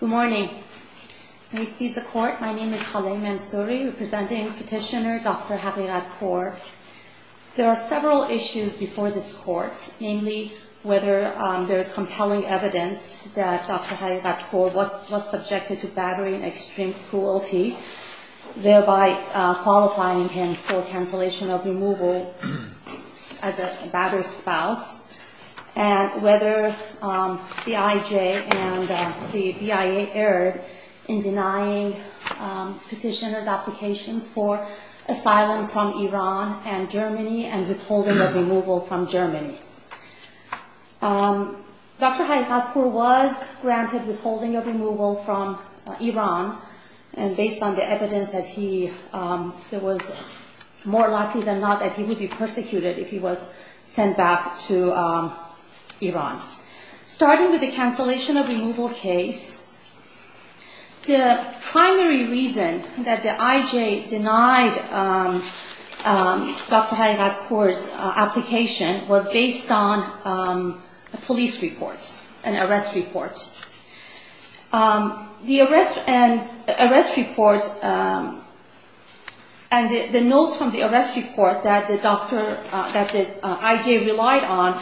Good morning. May it please the Court, my name is Haleh Mansouri, representing Petitioner Dr. Haghighatpour. There are several issues before this Court, namely whether there is compelling evidence that Dr. Haghighatpour was subjected to battery and extreme cruelty, thereby qualifying him for cancellation of removal as a battered spouse, and whether the IJ and the BIA erred in denying petitioner's applications for Dr. Haghighatpour's application was based on the evidence that he was more likely than not that he would be persecuted if he was sent back to Iran. The notes from the arrest report that the IJ relied on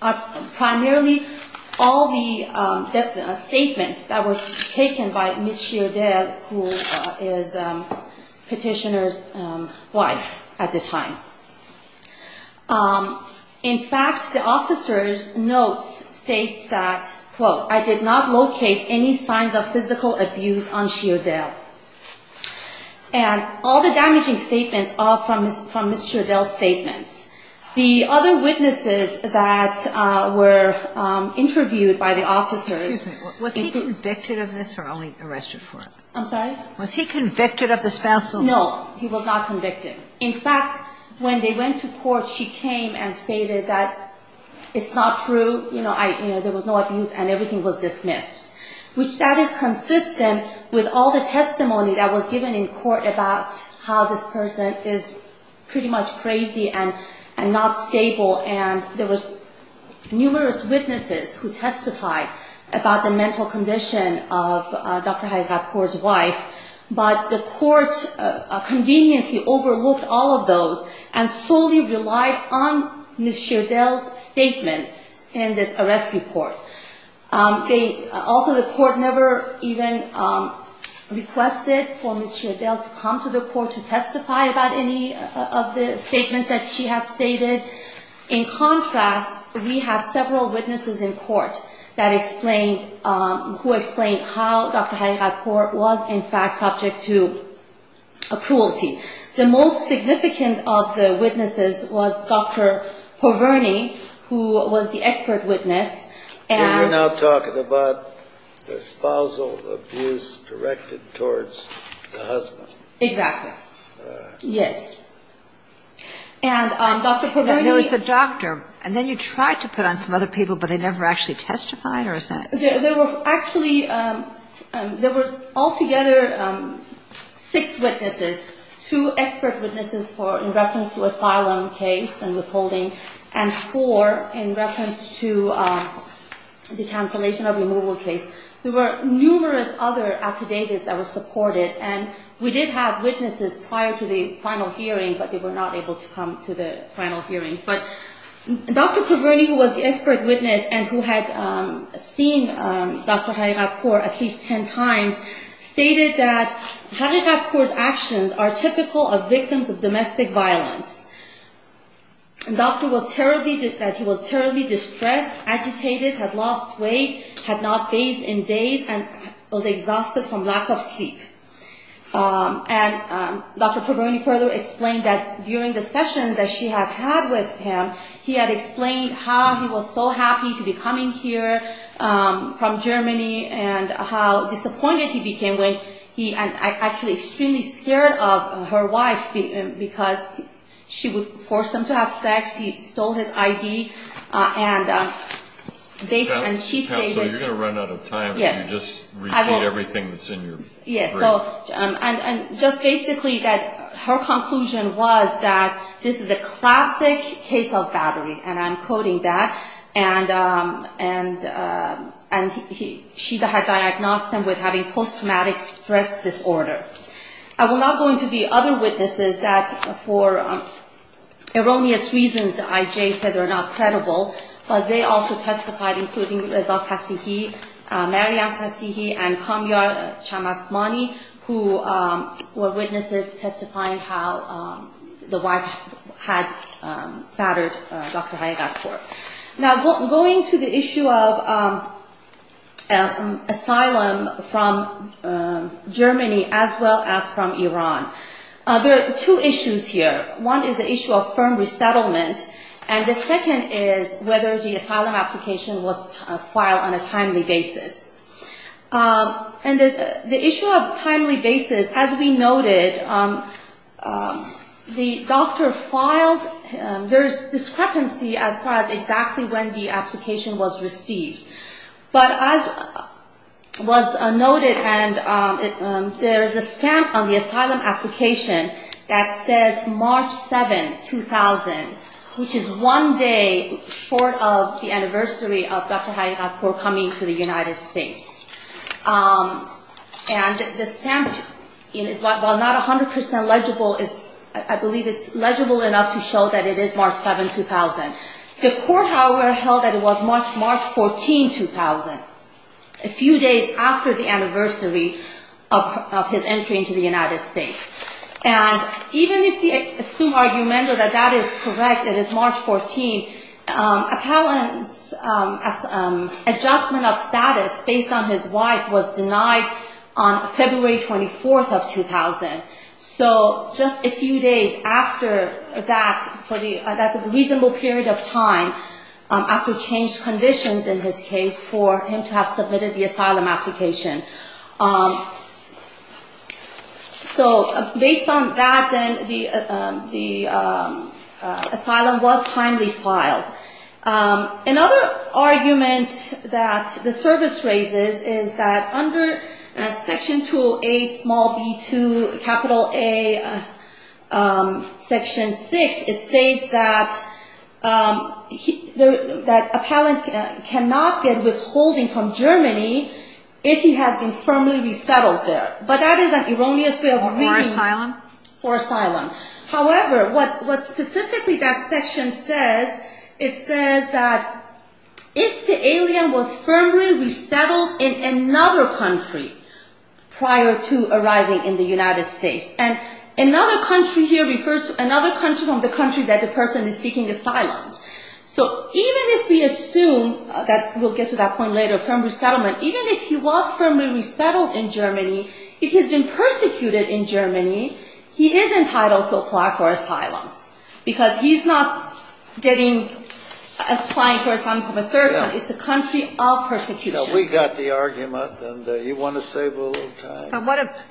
are primarily all the statements that were taken by Ms. Sheerdel, who is petitioner's wife at the time. In fact, the officer's notes states that, quote, I did not locate any signs of physical abuse on Sheerdel. And all the damaging statements are from Ms. Sheerdel's statements. The other witnesses that were interviewed by the officers – Excuse me. Was he convicted of this or only arrested for it? I'm sorry? Was he convicted of the spousal? No, he was not convicted. In fact, when they went to court, she came and stated that it's not true, there was no abuse, and everything was dismissed. Which that is consistent with all the testimony that was given in court about how this person is pretty much crazy and not stable. And there was numerous witnesses who testified about the mental condition of Dr. Hayekapour's wife. But the court conveniently overlooked all of those and solely relied on Ms. Sheerdel's statements in this arrest report. Also, the court never even requested for Ms. Sheerdel to come to the court to testify about any of the statements that she had stated. In contrast, we had several witnesses in court who explained how Dr. Hayekapour was in fact subject to cruelty. The most significant of the witnesses was Dr. Porverni, who was the expert witness. And we're now talking about the spousal abuse directed towards the husband. Exactly. Yes. And Dr. Porverni – There was a doctor, and then you tried to put on some other people, but they never actually testified, or is that – There were actually – there was altogether six witnesses. Two expert witnesses in reference to asylum case and withholding, and four in reference to the cancellation of removal case. There were numerous other affidavits that were supported. And we did have witnesses prior to the final hearing, but they were not able to come to the final hearings. But Dr. Porverni, who was the expert witness and who had seen Dr. Hayekapour at least 10 times, stated that Hayekapour's actions are typical of victims of domestic violence. The doctor was terribly – that he was terribly distressed, agitated, had lost weight, had not bathed in days, and was exhausted from lack of sleep. And Dr. Porverni further explained that during the sessions that she had had with him, he had explained how he was so happy to be coming here from Germany, and how disappointed he became when he – and actually extremely scared of her wife, because she would force him to have sex, he stole his ID, and they – and she stated – and just basically that her conclusion was that this is a classic case of battery. And I'm quoting that. And she had diagnosed him with having post-traumatic stress disorder. I will not go into the other witnesses that for erroneous reasons the IJ said are not credible, but they also testified, including Reza Kassihi, Maryam Kassihi, and Kamyar Chamasmani, who were witnesses testifying how the wife had battered Dr. Hayekapour. Now, going to the issue of asylum from Germany as well as from Iran, there are two issues here. One is the issue of firm resettlement, and the second is whether the asylum application was filed on a timely basis. And the issue of timely basis, as we noted, the doctor filed – there is discrepancy as far as exactly when the application was received. But as was noted, there is a stamp on the asylum application that says March 7, 2000, which is one day short of the anniversary of Dr. Hayekapour coming to the United States. And the stamp, while not 100 percent legible, I believe it's legible enough to show that it is March 7, 2000. The court, however, held that it was March 14, 2000, a few days after the anniversary of his entry into the United States. And even if we assume argument that that is correct, it is March 14, appellant's adjustment of status based on his wife was denied on February 24, 2000. So just a few days after that, that's a reasonable period of time, after changed conditions in his case for him to have submitted the asylum application. So based on that, then, the asylum was timely filed. Another argument that the service raises is that under Section 208, small b, 2, capital A, Section 6, it states that appellant cannot get withholding from Germany if he has been firmly resettled there. But that is an erroneous way of – Or asylum. Or asylum. However, what specifically that section says, it says that if the alien was firmly resettled in another country prior to arriving in the United States. And another country here refers to another country from the country that the person is seeking asylum. So even if we assume that – we'll get to that point later – firm resettlement, even if he was firmly resettled in Germany, if he's been persecuted in Germany, he is entitled to apply for asylum. Because he's not getting – applying for asylum from a third one. It's the country of persecution. We got the argument, and you want to save a little time. But what if –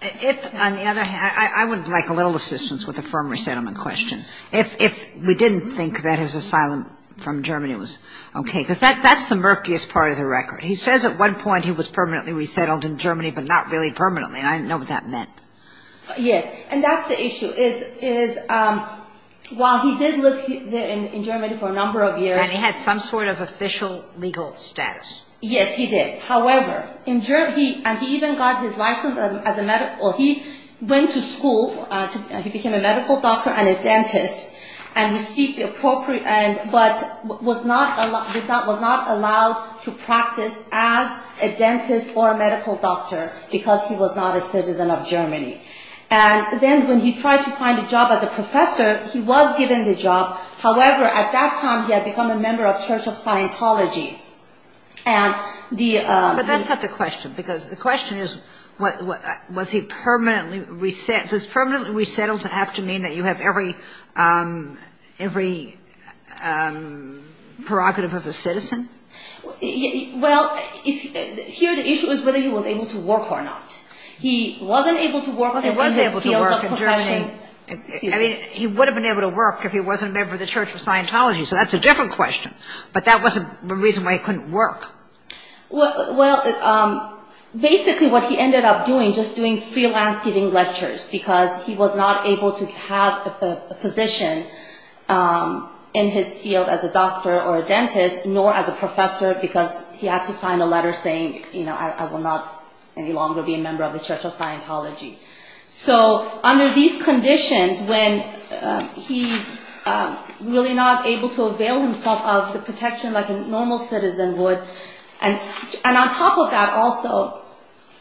if, on the other hand – I would like a little assistance with the firm resettlement question. If we didn't think that his asylum from Germany was okay. Because that's the murkiest part of the record. He says at one point he was permanently resettled in Germany, but not really permanently. I don't know what that meant. Yes. And that's the issue, is while he did live there in Germany for a number of years. And he had some sort of official legal status. Yes, he did. However, in Germany – and he even got his license as a medical – he went to school. He became a medical doctor and a dentist and received the appropriate – but was not – And then when he tried to find a job as a professor, he was given the job. However, at that time he had become a member of Church of Scientology. And the – But that's not the question. Because the question is, was he permanently resettled? Does permanently resettled have to mean that you have every – every prerogative of a citizen? Well, here the issue is whether he was able to work or not. He wasn't able to work in his field of profession. Well, he was able to work in Germany. I mean, he would have been able to work if he wasn't a member of the Church of Scientology. So that's a different question. But that wasn't the reason why he couldn't work. Well, basically what he ended up doing, just doing freelance giving lectures, because he was not able to have a position in his field as a doctor or a dentist, nor as a professor, because he had to sign a letter saying, you know, I will not any longer be a member of the Church of Scientology. So under these conditions, when he's really not able to avail himself of the protection like a normal citizen would, and on top of that also,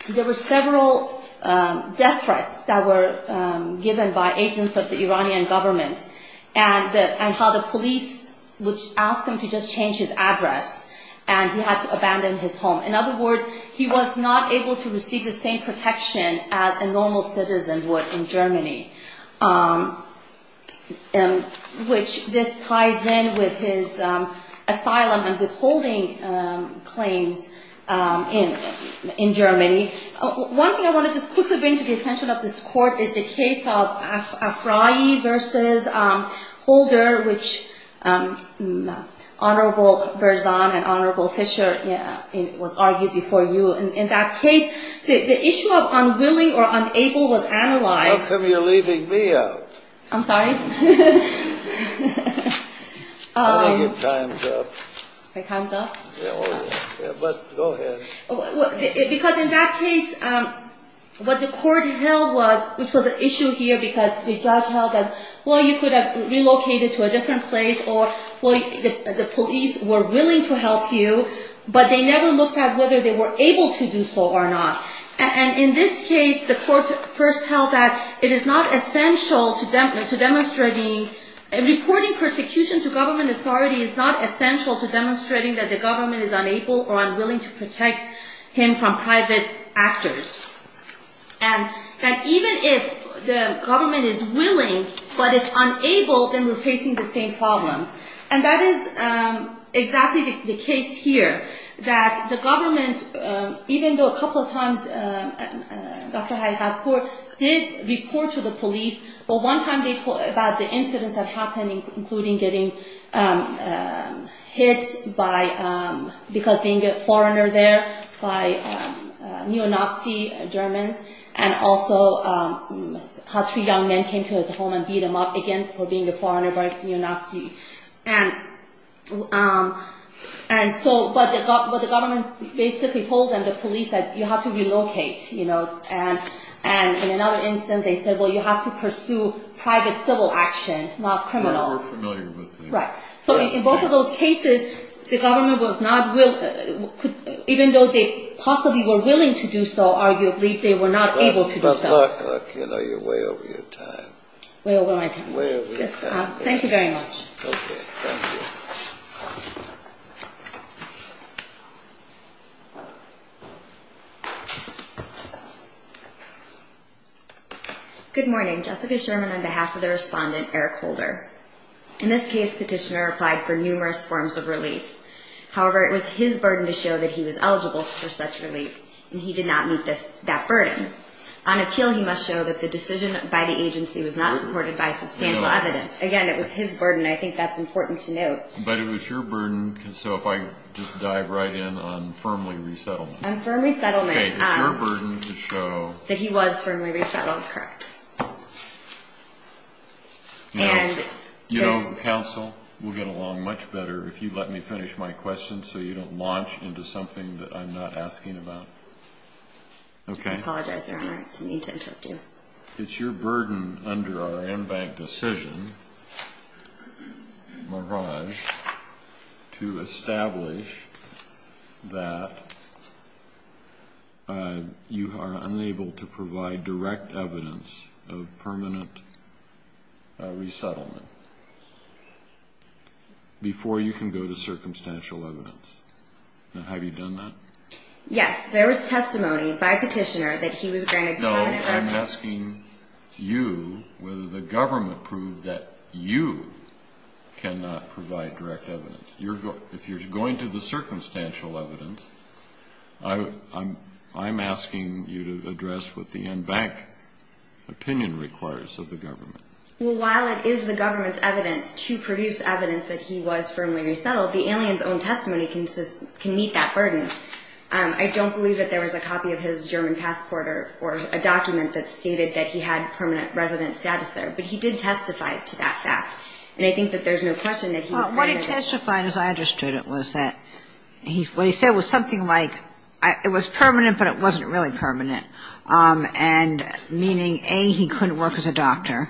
there were several death threats that were given by agents of the Iranian government, and how the police would ask him to just change his address, and he had to abandon his home. In other words, he was not able to receive the same protection as a normal citizen would in Germany, which this ties in with his asylum and withholding claims in Germany. One thing I want to just quickly bring to the attention of this court is the case of Afrayi versus Holder, which Honorable Berzon and Honorable Fisher was argued before you. In that case, the issue of unwilling or unable was analyzed. How come you're leaving me out? I'm sorry? I think your time's up. My time's up? Yeah, go ahead. Because in that case, what the court held was, which was an issue here because the judge held that, well, you could have relocated to a different place or the police were willing to help you, but they never looked at whether they were able to do so or not. And in this case, the court first held that it is not essential to demonstrating Reporting persecution to government authority is not essential to demonstrating that the government is unable or unwilling to protect him from private actors, and that even if the government is willing but is unable, then we're facing the same problems. And that is exactly the case here, that the government, even though a couple of times Dr. Hayekatpour did report to the police, about the incidents that happened, including getting hit because being a foreigner there by neo-Nazi Germans, and also how three young men came to his home and beat him up again for being a foreigner by neo-Nazi. And so what the government basically told them, the police, that you have to relocate. And in another incident, they said, well, you have to pursue private civil action, not criminal. We're familiar with that. Right. So in both of those cases, the government was not, even though they possibly were willing to do so, arguably they were not able to do so. But look, you're way over your time. Way over my time. Way over your time. Thank you very much. Okay, thank you. Good morning. Jessica Sherman on behalf of the respondent, Eric Holder. In this case, petitioner applied for numerous forms of relief. However, it was his burden to show that he was eligible for such relief, and he did not meet that burden. On appeal, he must show that the decision by the agency was not supported by substantial evidence. Again, it was his burden, and I think that's important to note. But it was your burden, so if I just dive right in on firmly resettlement. On firmly settlement. Okay, it's your burden to show. That he was firmly resettled. Correct. Now, you know, counsel, we'll get along much better if you let me finish my question so you don't launch into something that I'm not asking about. Okay. I apologize, Your Honor. I didn't mean to interrupt you. It's your burden under our in-bank decision, Maraj, to establish that you are unable to provide direct evidence of permanent resettlement before you can go to circumstantial evidence. Now, have you done that? Yes, there was testimony by petitioner that he was granted permanent residence. I'm asking you whether the government proved that you cannot provide direct evidence. If you're going to the circumstantial evidence, I'm asking you to address what the in-bank opinion requires of the government. Well, while it is the government's evidence to produce evidence that he was firmly resettled, the alien's own testimony can meet that burden. I don't believe that there was a copy of his German passport or a document that stated that he had permanent residence status there, but he did testify to that fact, and I think that there's no question that he was granted it. Well, what he testified, as I understood it, was that what he said was something like, it was permanent, but it wasn't really permanent, and meaning, A, he couldn't work as a doctor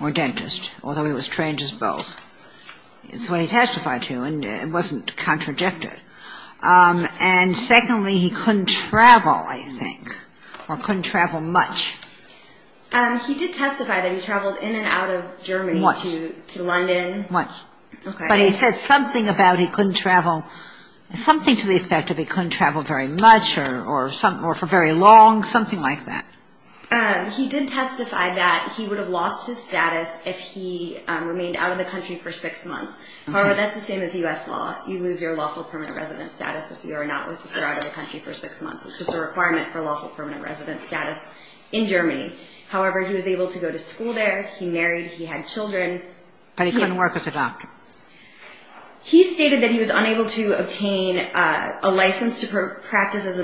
or dentist, although he was trained as both. That's what he testified to, and it wasn't contradicted. And secondly, he couldn't travel, I think, or couldn't travel much. He did testify that he traveled in and out of Germany to London. Much. But he said something about he couldn't travel, something to the effect of he couldn't travel very much or for very long, something like that. He did testify that he would have lost his status if he remained out of the country for six months. However, that's the same as U.S. law. You lose your lawful permanent residence status if you are not out of the country for six months. It's just a requirement for lawful permanent residence status in Germany. However, he was able to go to school there. He married. He had children. But he couldn't work as a doctor. He stated that he was unable to obtain a license to practice as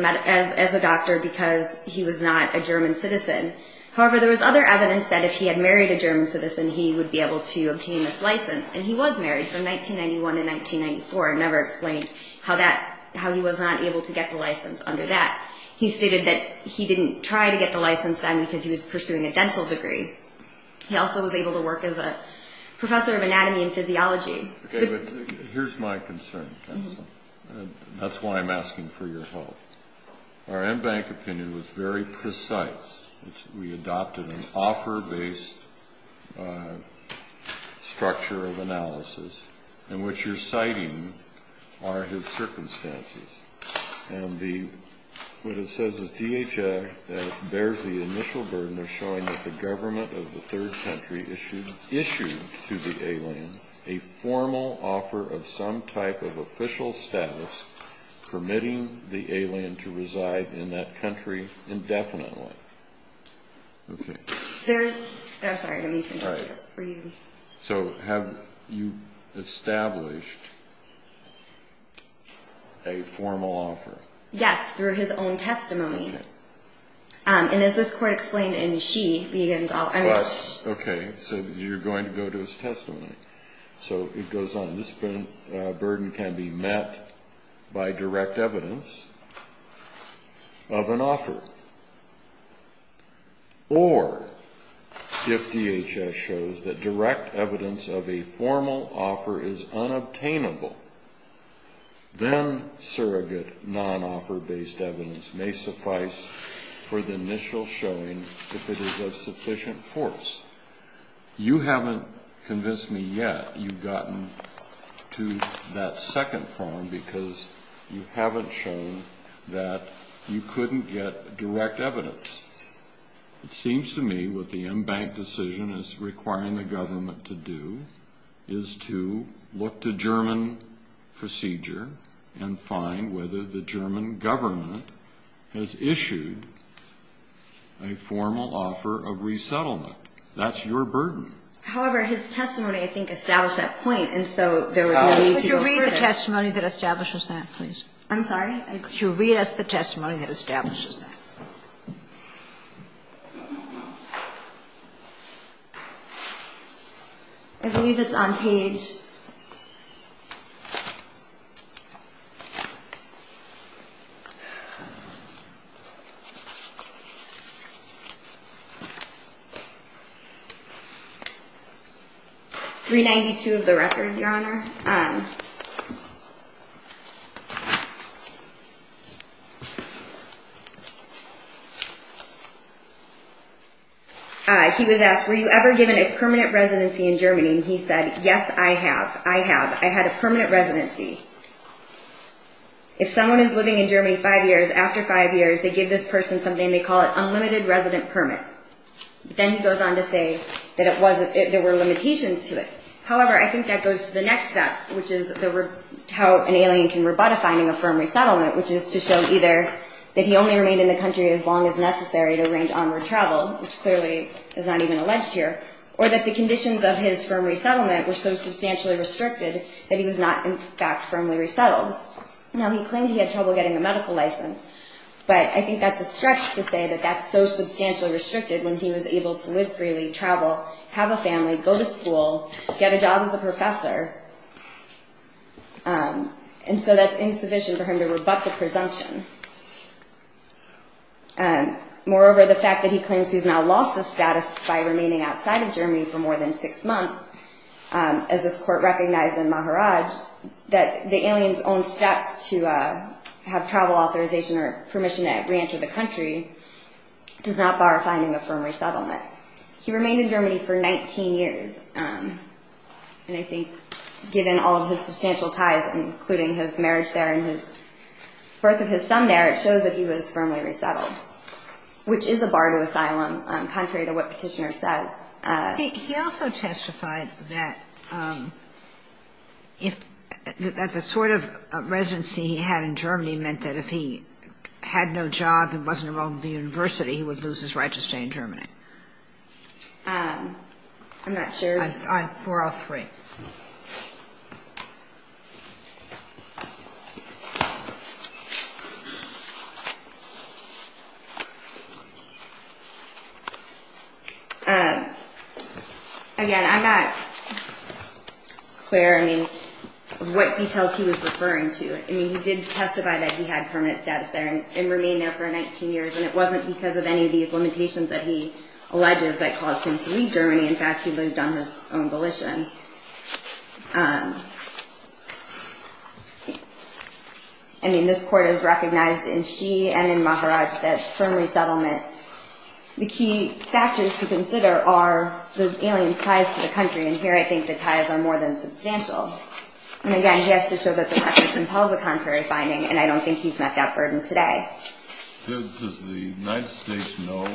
a doctor because he was not a German citizen. However, there was other evidence that if he had married a German citizen, he would be able to obtain this license. And he was married from 1991 to 1994. I never explained how he was not able to get the license under that. He stated that he didn't try to get the license then because he was pursuing a dental degree. He also was able to work as a professor of anatomy and physiology. Okay, but here's my concern. That's why I'm asking for your help. Our M-Bank opinion was very precise. We adopted an offer-based structure of analysis in which you're citing are his circumstances. And what it says is DHA bears the initial burden of showing that the government of the third country issued to the alien a formal offer of some type of official status permitting the alien to reside in that country indefinitely. Okay. I'm sorry. I need to interpret it for you. So have you established a formal offer? Yes, through his own testimony. And as this court explained in She Begins All Emotions. Okay, so you're going to go to his testimony. So it goes on. This burden can be met by direct evidence of an offer. Or if DHS shows that direct evidence of a formal offer is unobtainable, then surrogate non-offer-based evidence may suffice for the initial showing if it is of sufficient force. You haven't convinced me yet you've gotten to that second prong because you haven't shown that you couldn't get direct evidence. It seems to me what the M-Bank decision is requiring the government to do is to look to German procedure and find whether the German government has issued a formal offer of resettlement. That's your burden. However, his testimony, I think, established that point, and so there was no need to go further. Could you read the testimony that establishes that, please? I'm sorry? Could you read us the testimony that establishes that? I don't know. I believe it's on page 392 of the record, Your Honor. He was asked, Were you ever given a permanent residency in Germany? And he said, Yes, I have. I have. I had a permanent residency. If someone is living in Germany five years, after five years they give this person something they call an unlimited resident permit. Then he goes on to say that there were limitations to it. However, I think that goes to the next step. which is how an alien can rebut a finding of firm resettlement, which is to show either that he only remained in the country as long as necessary to arrange onward travel, which clearly is not even alleged here, or that the conditions of his firm resettlement were so substantially restricted that he was not, in fact, firmly resettled. Now, he claimed he had trouble getting a medical license, but I think that's a stretch to say that that's so substantially restricted that he can't go to school, get a job as a professor, and so that's insufficient for him to rebut the presumption. Moreover, the fact that he claims he's now lost his status by remaining outside of Germany for more than six months, as this court recognized in Maharaj, that the alien's own steps to have travel authorization or permission to reenter the country does not bar finding a firm resettlement. He remained in Germany for 19 years, and I think given all of his substantial ties, including his marriage there and the birth of his son there, it shows that he was firmly resettled, which is a bar to asylum, contrary to what Petitioner says. He also testified that the sort of residency he had in Germany meant that if he had no job and wasn't enrolled in the university, he would lose his right to stay in Germany. I'm not sure. 403. Again, I'm not clear, I mean, what details he was referring to. I mean, he did testify that he had permanent status there and remained there for 19 years, and it wasn't because of any of these limitations that he alleges that caused him to leave Germany. In fact, he lived on his own volition. I mean, this court has recognized in she and in Maharaj that firm resettlement, the key factors to consider are the alien's ties to the country, and here I think the ties are more than substantial. And again, he has to show that the record compels a contrary finding, and I don't think he's met that burden today. Does the United States know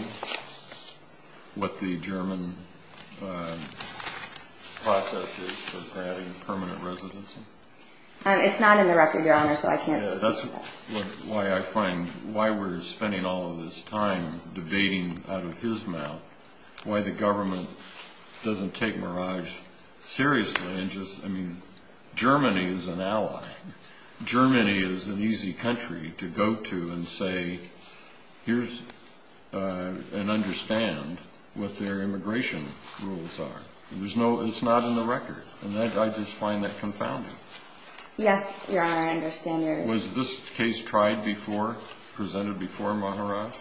what the German process is for granting permanent residency? It's not in the record, Your Honor, so I can't speak to that. Yeah, that's why I find, why we're spending all of this time debating out of his mouth, why the government doesn't take Maharaj seriously and just, I mean, Germany is an ally. Germany is an easy country to go to and say, here's, and understand what their immigration rules are. It's not in the record, and I just find that confounding. Yes, Your Honor, I understand your... Was this case tried before, presented before Maharaj?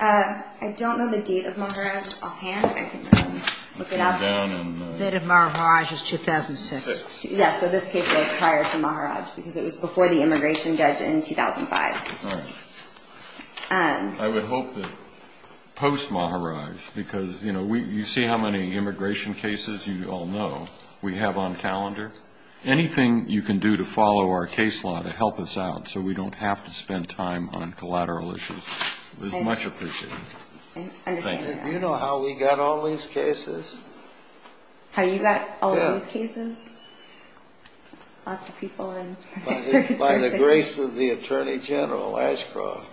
I don't know the date of Maharaj offhand. I can look it up. The date of Maharaj is 2006. Yes, so this case was prior to Maharaj because it was before the immigration judge in 2005. All right. I would hope that post-Maharaj, because, you know, you see how many immigration cases you all know we have on calendar. Anything you can do to follow our case law to help us out so we don't have to spend time on collateral issues is much appreciated. Thank you. You know how we got all these cases. How you got all these cases? Lots of people. By the grace of the Attorney General Ashcroft,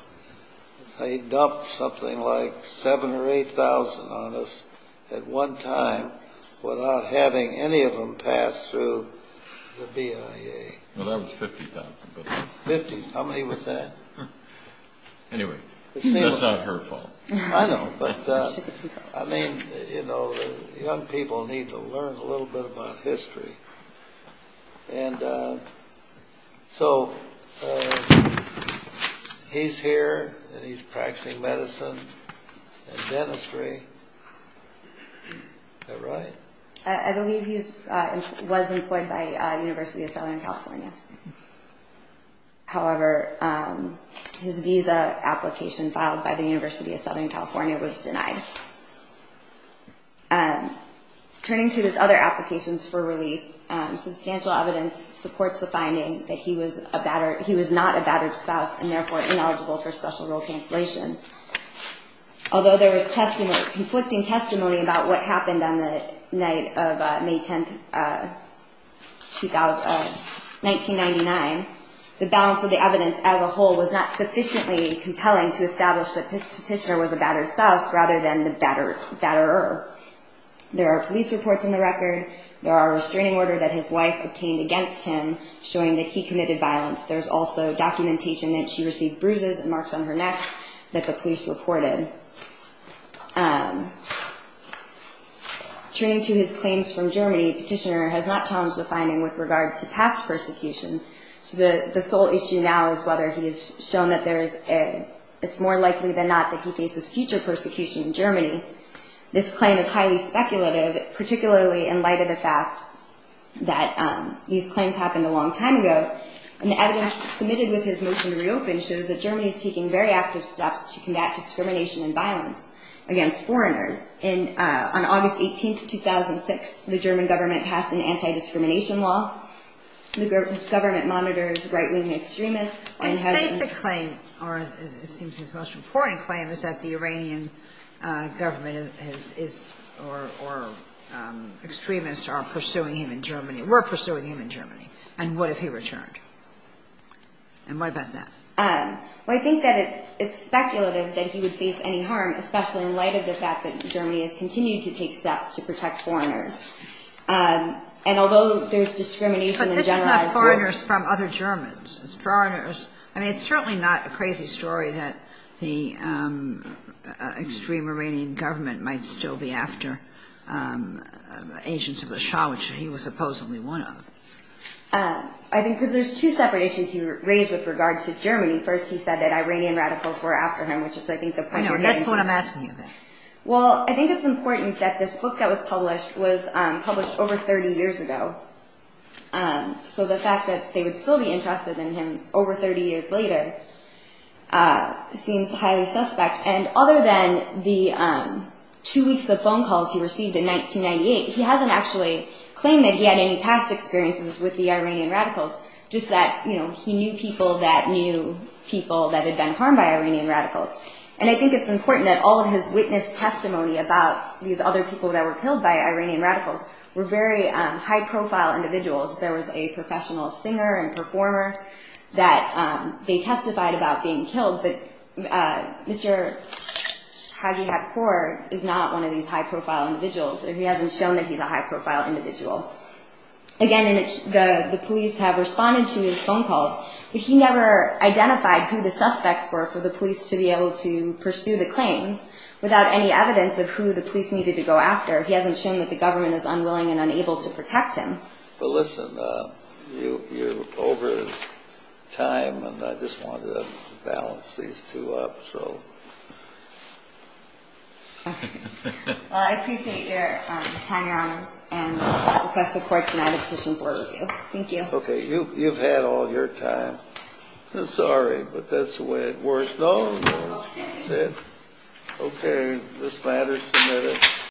they dumped something like 7,000 or 8,000 on us at one time without having any of them pass through the BIA. Well, that was 50,000. 50? How many was that? Anyway, that's not her fault. I know, but, I mean, you know, young people need to learn a little bit about history. And so he's here, and he's practicing medicine and dentistry. Is that right? I believe he was employed by University of Southern California. However, his visa application filed by the University of Southern California was denied. Turning to his other applications for relief, substantial evidence supports the finding that he was not a battered spouse and, therefore, ineligible for special role cancellation. Although there was conflicting testimony about what happened on the night of May 10, 1999, the balance of the evidence as a whole was not sufficiently compelling to establish that this petitioner was a battered spouse rather than the batterer. There are police reports in the record. There are restraining order that his wife obtained against him showing that he committed violence. There's also documentation that she received bruises and marks on her neck that the police reported. Turning to his claims from Germany, the petitioner has not challenged the finding with regard to past persecution. So the sole issue now is whether he has shown that it's more likely than not that he faces future persecution in Germany. This claim is highly speculative, particularly in light of the fact that these claims happened a long time ago. And the evidence submitted with his motion to reopen shows that Germany is taking very active steps to combat discrimination and violence against foreigners. On August 18, 2006, the German government passed an anti-discrimination law. The government monitors right-wing extremists. His basic claim, or it seems his most important claim, is that the Iranian government or extremists are pursuing him in Germany. We're pursuing him in Germany. And what if he returned? And what about that? Well, I think that it's speculative that he would face any harm, especially in light of the fact that Germany has continued to take steps to protect foreigners. And although there's discrimination in the generalized sense. But this is not foreigners from other Germans. It's foreigners. I mean, it's certainly not a crazy story that the extreme Iranian government might still be after agents of the Shah, which he was supposedly one of. I think because there's two separate issues you raised with regards to Germany. First, he said that Iranian radicals were after him, which is, I think, the point you're getting to. That's what I'm asking you, then. Well, I think it's important that this book that was published was published over 30 years ago. So the fact that they would still be interested in him over 30 years later seems highly suspect. And other than the two weeks of phone calls he received in 1998, he hasn't actually claimed that he had any past experiences with the Iranian radicals, just that he knew people that knew people that had been harmed by Iranian radicals. And I think it's important that all of his witness testimony about these other people that were killed by Iranian radicals were very high-profile individuals. There was a professional singer and performer that they testified about being killed. But Mr. Hagi Hakkor is not one of these high-profile individuals. He hasn't shown that he's a high-profile individual. Again, the police have responded to his phone calls, but he never identified who the suspects were for the police to be able to pursue the claims without any evidence of who the police needed to go after. He hasn't shown that the government is unwilling and unable to protect him. Well, listen, you're over time, and I just wanted to balance these two up. Okay. Well, I appreciate your time, Your Honors, and request the court tonight to petition for a review. Thank you. Okay. You've had all your time. I'm sorry, but that's the way it works. No, no. Okay. Okay. This matter's submitted.